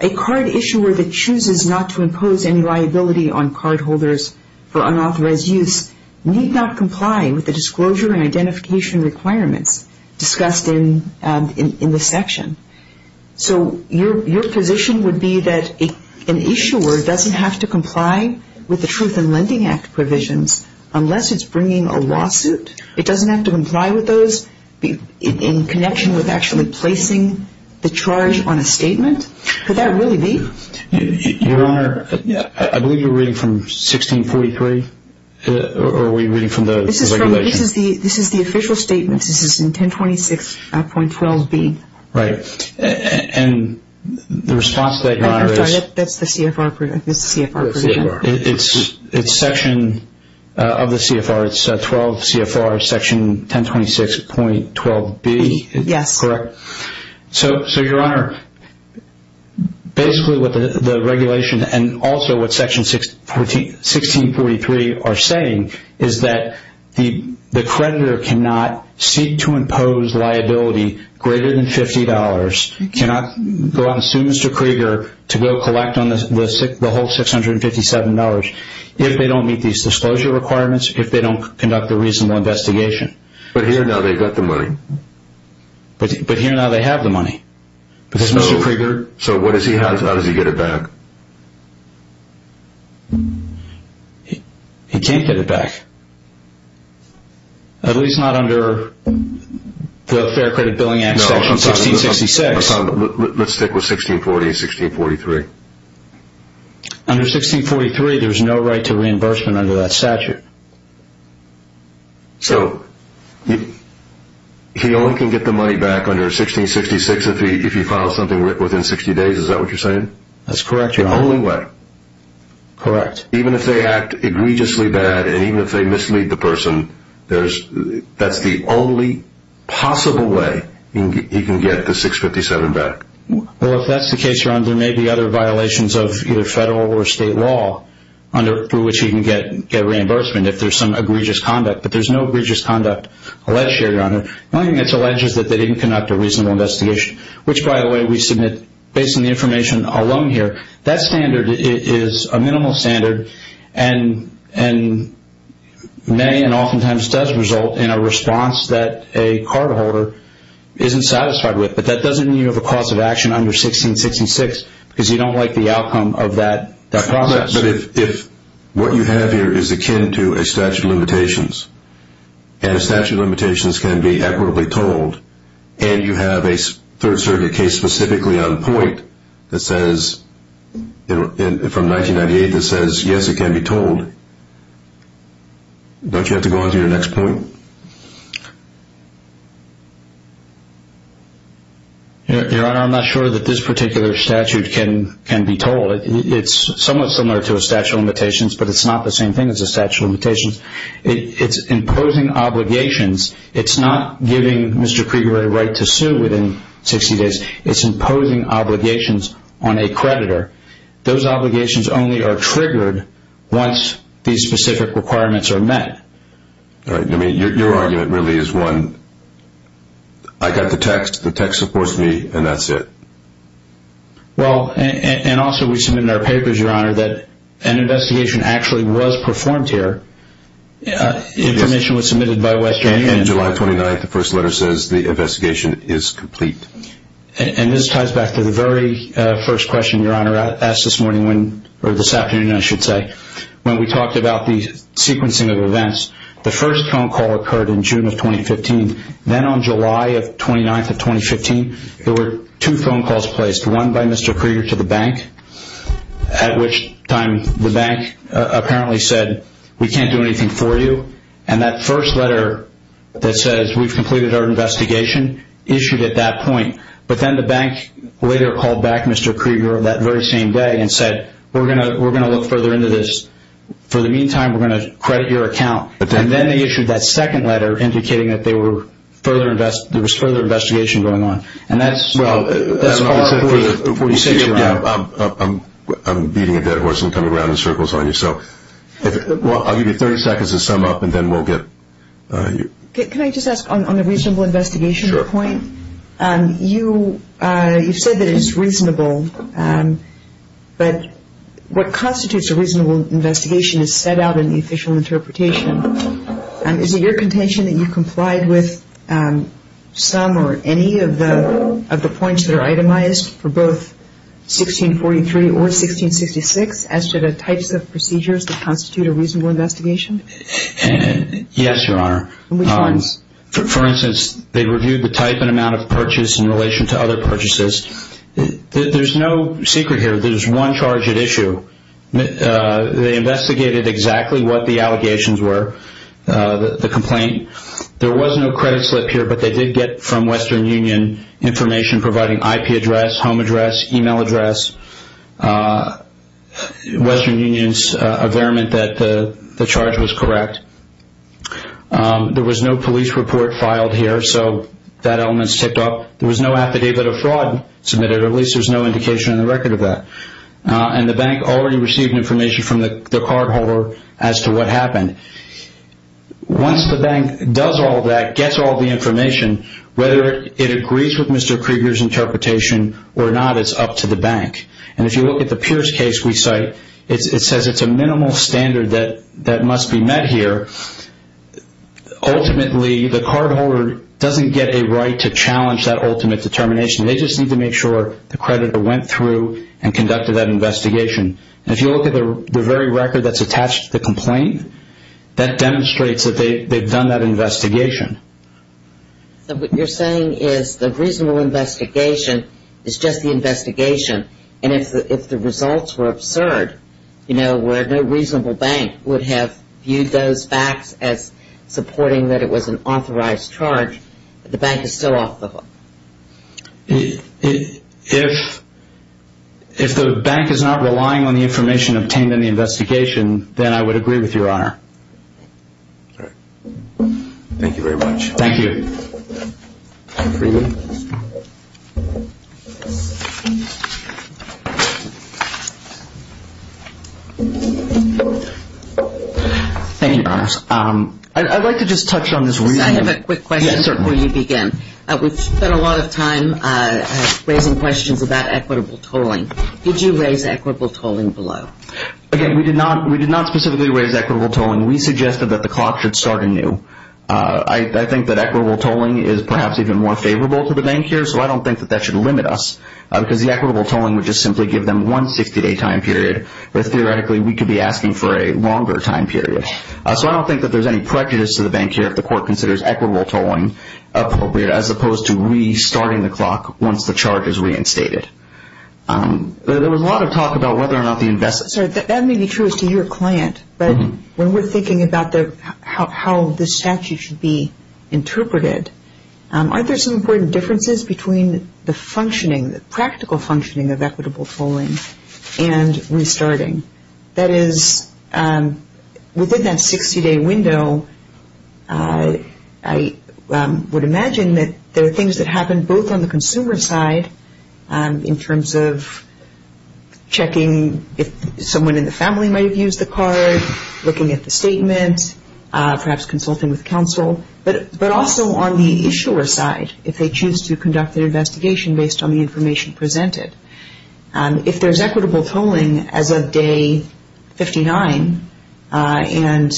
A card issuer that chooses not to impose any liability on cardholders for unauthorized use need not comply with the disclosure and identification requirements discussed in this section. So your position would be that an issuer doesn't have to comply with the Truth in Lending Act provisions unless it's bringing a lawsuit. It doesn't have to comply with those in connection with actually placing the charge on a statement? Could that really be? Your Honor, I believe you're reading from 1643, or are we reading from the regulation? This is the official statement. This is in 1026.12b. Right. And the response to that, Your Honor, is? That's the CFR provision. It's section of the CFR. It's 12 CFR section 1026.12b. Yes. Correct. So, Your Honor, basically what the regulation and also what section 1643 are saying is that the creditor cannot seek to impose liability greater than $50, cannot go out and sue Mr. Krieger to go collect on the whole $657, if they don't meet these disclosure requirements, if they don't conduct a reasonable investigation. But here now they've got the money. But here now they have the money. So what does he have? How does he get it back? He can't get it back, at least not under the Fair Credit Billing Act section 1666. Let's stick with 1640 and 1643. Under 1643, there's no right to reimbursement under that statute. So he only can get the money back under 1666 if he files something within 60 days. Is that what you're saying? That's correct, Your Honor. The only way. Correct. Even if they act egregiously bad and even if they mislead the person, that's the only possible way he can get the $657 back. Well, if that's the case, Your Honor, there may be other violations of either federal or state law under which he can get reimbursement if there's some egregious conduct. But there's no egregious conduct alleged here, Your Honor. The only thing that's alleged is that they didn't conduct a reasonable investigation, which, by the way, we submit based on the information alone here. That standard is a minimal standard and may and oftentimes does result in a response that a cardholder isn't satisfied with. But that doesn't mean you have a cause of action under 1666 because you don't like the outcome of that process. But if what you have here is akin to a statute of limitations and a statute of limitations can be equitably told and you have a Third Circuit case specifically on point from 1998 that says, yes, it can be told, don't you have to go on to your next point? Your Honor, I'm not sure that this particular statute can be told. It's somewhat similar to a statute of limitations, but it's not the same thing as a statute of limitations. It's imposing obligations. It's not giving Mr. Krieger a right to sue within 60 days. It's imposing obligations on a creditor. Those obligations only are triggered once these specific requirements are met. All right. Your argument really is one, I got the text, the text supports me, and that's it. Well, and also we submitted our papers, Your Honor, that an investigation actually was performed here. Information was submitted by Western Union. On July 29th, the first letter says the investigation is complete. And this ties back to the very first question Your Honor asked this morning when, or this afternoon I should say, when we talked about the sequencing of events. The first phone call occurred in June of 2015. Then on July 29th of 2015, there were two phone calls placed, one by Mr. Krieger to the bank, at which time the bank apparently said, we can't do anything for you. And that first letter that says we've completed our investigation issued at that point. But then the bank later called back Mr. Krieger that very same day and said, we're going to look further into this. For the meantime, we're going to credit your account. And then they issued that second letter indicating that there was further investigation going on. And that's part of the procedure. I'm beating a dead horse and coming around in circles on you. Well, I'll give you 30 seconds to sum up and then we'll get you. Can I just ask on the reasonable investigation point? Sure. You've said that it's reasonable. But what constitutes a reasonable investigation is set out in the official interpretation. Is it your contention that you complied with some or any of the points that are itemized for both 1643 or 1666 as to the types of procedures that constitute a reasonable investigation? Yes, Your Honor. Which ones? For instance, they reviewed the type and amount of purchase in relation to other purchases. There's no secret here. There's one charge at issue. They investigated exactly what the allegations were, the complaint. There was no credit slip here, but they did get from Western Union information providing IP address, home address, e-mail address. Western Union's affirmation that the charge was correct. There was no police report filed here, so that element's tipped off. There was no affidavit of fraud submitted, or at least there's no indication in the record of that. And the bank already received information from the cardholder as to what happened. Once the bank does all that, gets all the information, whether it agrees with Mr. Krieger's interpretation or not, it's up to the bank. And if you look at the Pierce case we cite, it says it's a minimal standard that must be met here. Ultimately, the cardholder doesn't get a right to challenge that ultimate determination. They just need to make sure the creditor went through and conducted that investigation. And if you look at the very record that's attached to the complaint, that demonstrates that they've done that investigation. So what you're saying is the reasonable investigation is just the investigation, and if the results were absurd, you know, where no reasonable bank would have viewed those facts as supporting that it was an authorized charge, the bank is still off the hook. If the bank is not relying on the information obtained in the investigation, then I would agree with you, Your Honor. All right. Thank you very much. Thank you. Mr. Krieger? Thank you, Your Honor. I'd like to just touch on this reason. I have a quick question before you begin. We've spent a lot of time raising questions about equitable tolling. Did you raise equitable tolling below? Again, we did not specifically raise equitable tolling. We suggested that the clock should start anew. I think that equitable tolling is perhaps even more favorable to the bank here, so I don't think that that should limit us because the equitable tolling would just simply give them one 60-day time period, but theoretically we could be asking for a longer time period. So I don't think that there's any prejudice to the bank here if the court considers equitable tolling appropriate as opposed to restarting the clock once the charge is reinstated. There was a lot of talk about whether or not the investor – Sir, that may be true as to your client, but when we're thinking about how this statute should be interpreted, aren't there some important differences between the functioning, the practical functioning of equitable tolling and restarting? That is, within that 60-day window, I would imagine that there are things that happen both on the consumer side in terms of checking if someone in the family might have used the card, looking at the statement, perhaps consulting with counsel, but also on the issuer side, if they choose to conduct an investigation based on the information presented. If there's equitable tolling as of day 59 and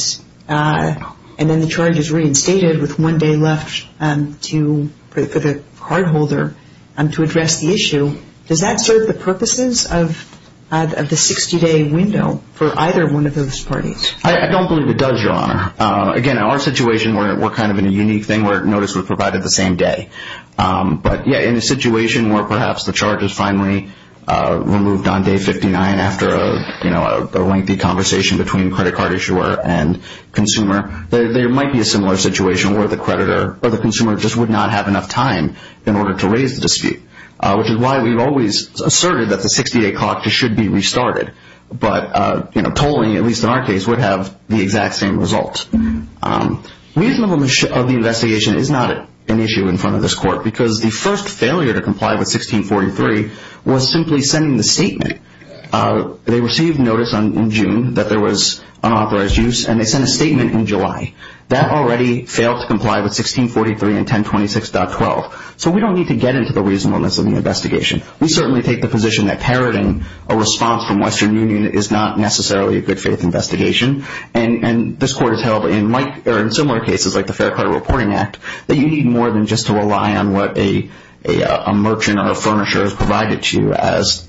then the charge is reinstated with one day left for the cardholder to address the issue, does that serve the purposes of the 60-day window for either one of those parties? I don't believe it does, Your Honor. Again, in our situation, we're kind of in a unique thing where notice was provided the same day. But yeah, in a situation where perhaps the charge is finally removed on day 59 after a lengthy conversation between credit card issuer and consumer, there might be a similar situation where the creditor or the consumer just would not have enough time in order to raise the dispute, which is why we've always asserted that the 60-day clock should be restarted. But tolling, at least in our case, would have the exact same result. Reasonableness of the investigation is not an issue in front of this Court because the first failure to comply with 1643 was simply sending the statement. They received notice in June that there was unauthorized use, and they sent a statement in July. That already failed to comply with 1643 and 1026.12. So we don't need to get into the reasonableness of the investigation. We certainly take the position that parroting a response from Western Union is not necessarily a good faith investigation. And this Court has held in similar cases like the Fair Credit Reporting Act that you need more than just to rely on what a merchant or a furnisher has provided to you as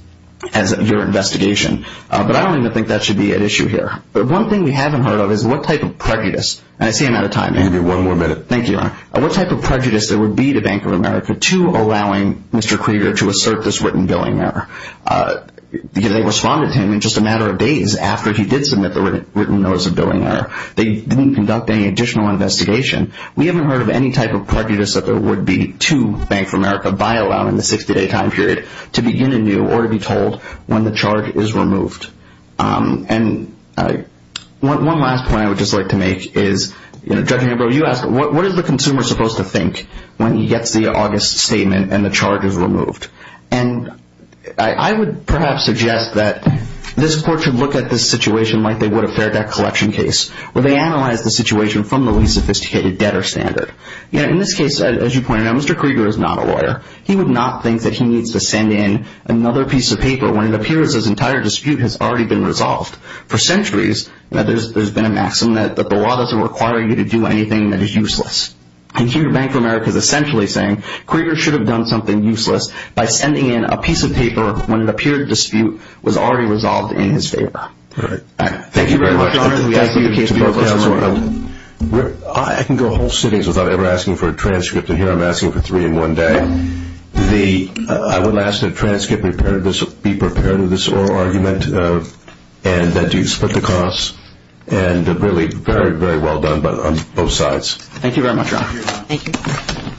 your investigation. But I don't even think that should be at issue here. But one thing we haven't heard of is what type of prejudice – and I see I'm out of time. Andy, one more minute. Thank you, Your Honor. What type of prejudice there would be to Bank of America to allowing Mr. Krieger to assert this written billing error? Because they responded to him in just a matter of days after he did submit the written notice of billing error. They didn't conduct any additional investigation. We haven't heard of any type of prejudice that there would be to Bank of America by allowing the 60-day time period to begin anew or to be told when the charge is removed. And one last point I would just like to make is, Judge Ambrose, you asked, what is the consumer supposed to think when he gets the August statement and the charge is removed? And I would perhaps suggest that this court should look at this situation like they would a fair debt collection case where they analyze the situation from the least sophisticated debtor standard. In this case, as you pointed out, Mr. Krieger is not a lawyer. He would not think that he needs to send in another piece of paper when it appears his entire dispute has already been resolved. For centuries, there's been a maxim that the law doesn't require you to do anything that is useless. And here, Bank of America is essentially saying, Krieger should have done something useless by sending in a piece of paper when it appeared the dispute was already resolved in his favor. Thank you very much, Your Honor. I can go whole cities without ever asking for a transcript. And here I'm asking for three in one day. I would ask that the transcript be prepared for this oral argument and that you split the costs. And really, very, very well done on both sides. Thank you very much, Your Honor. Thank you.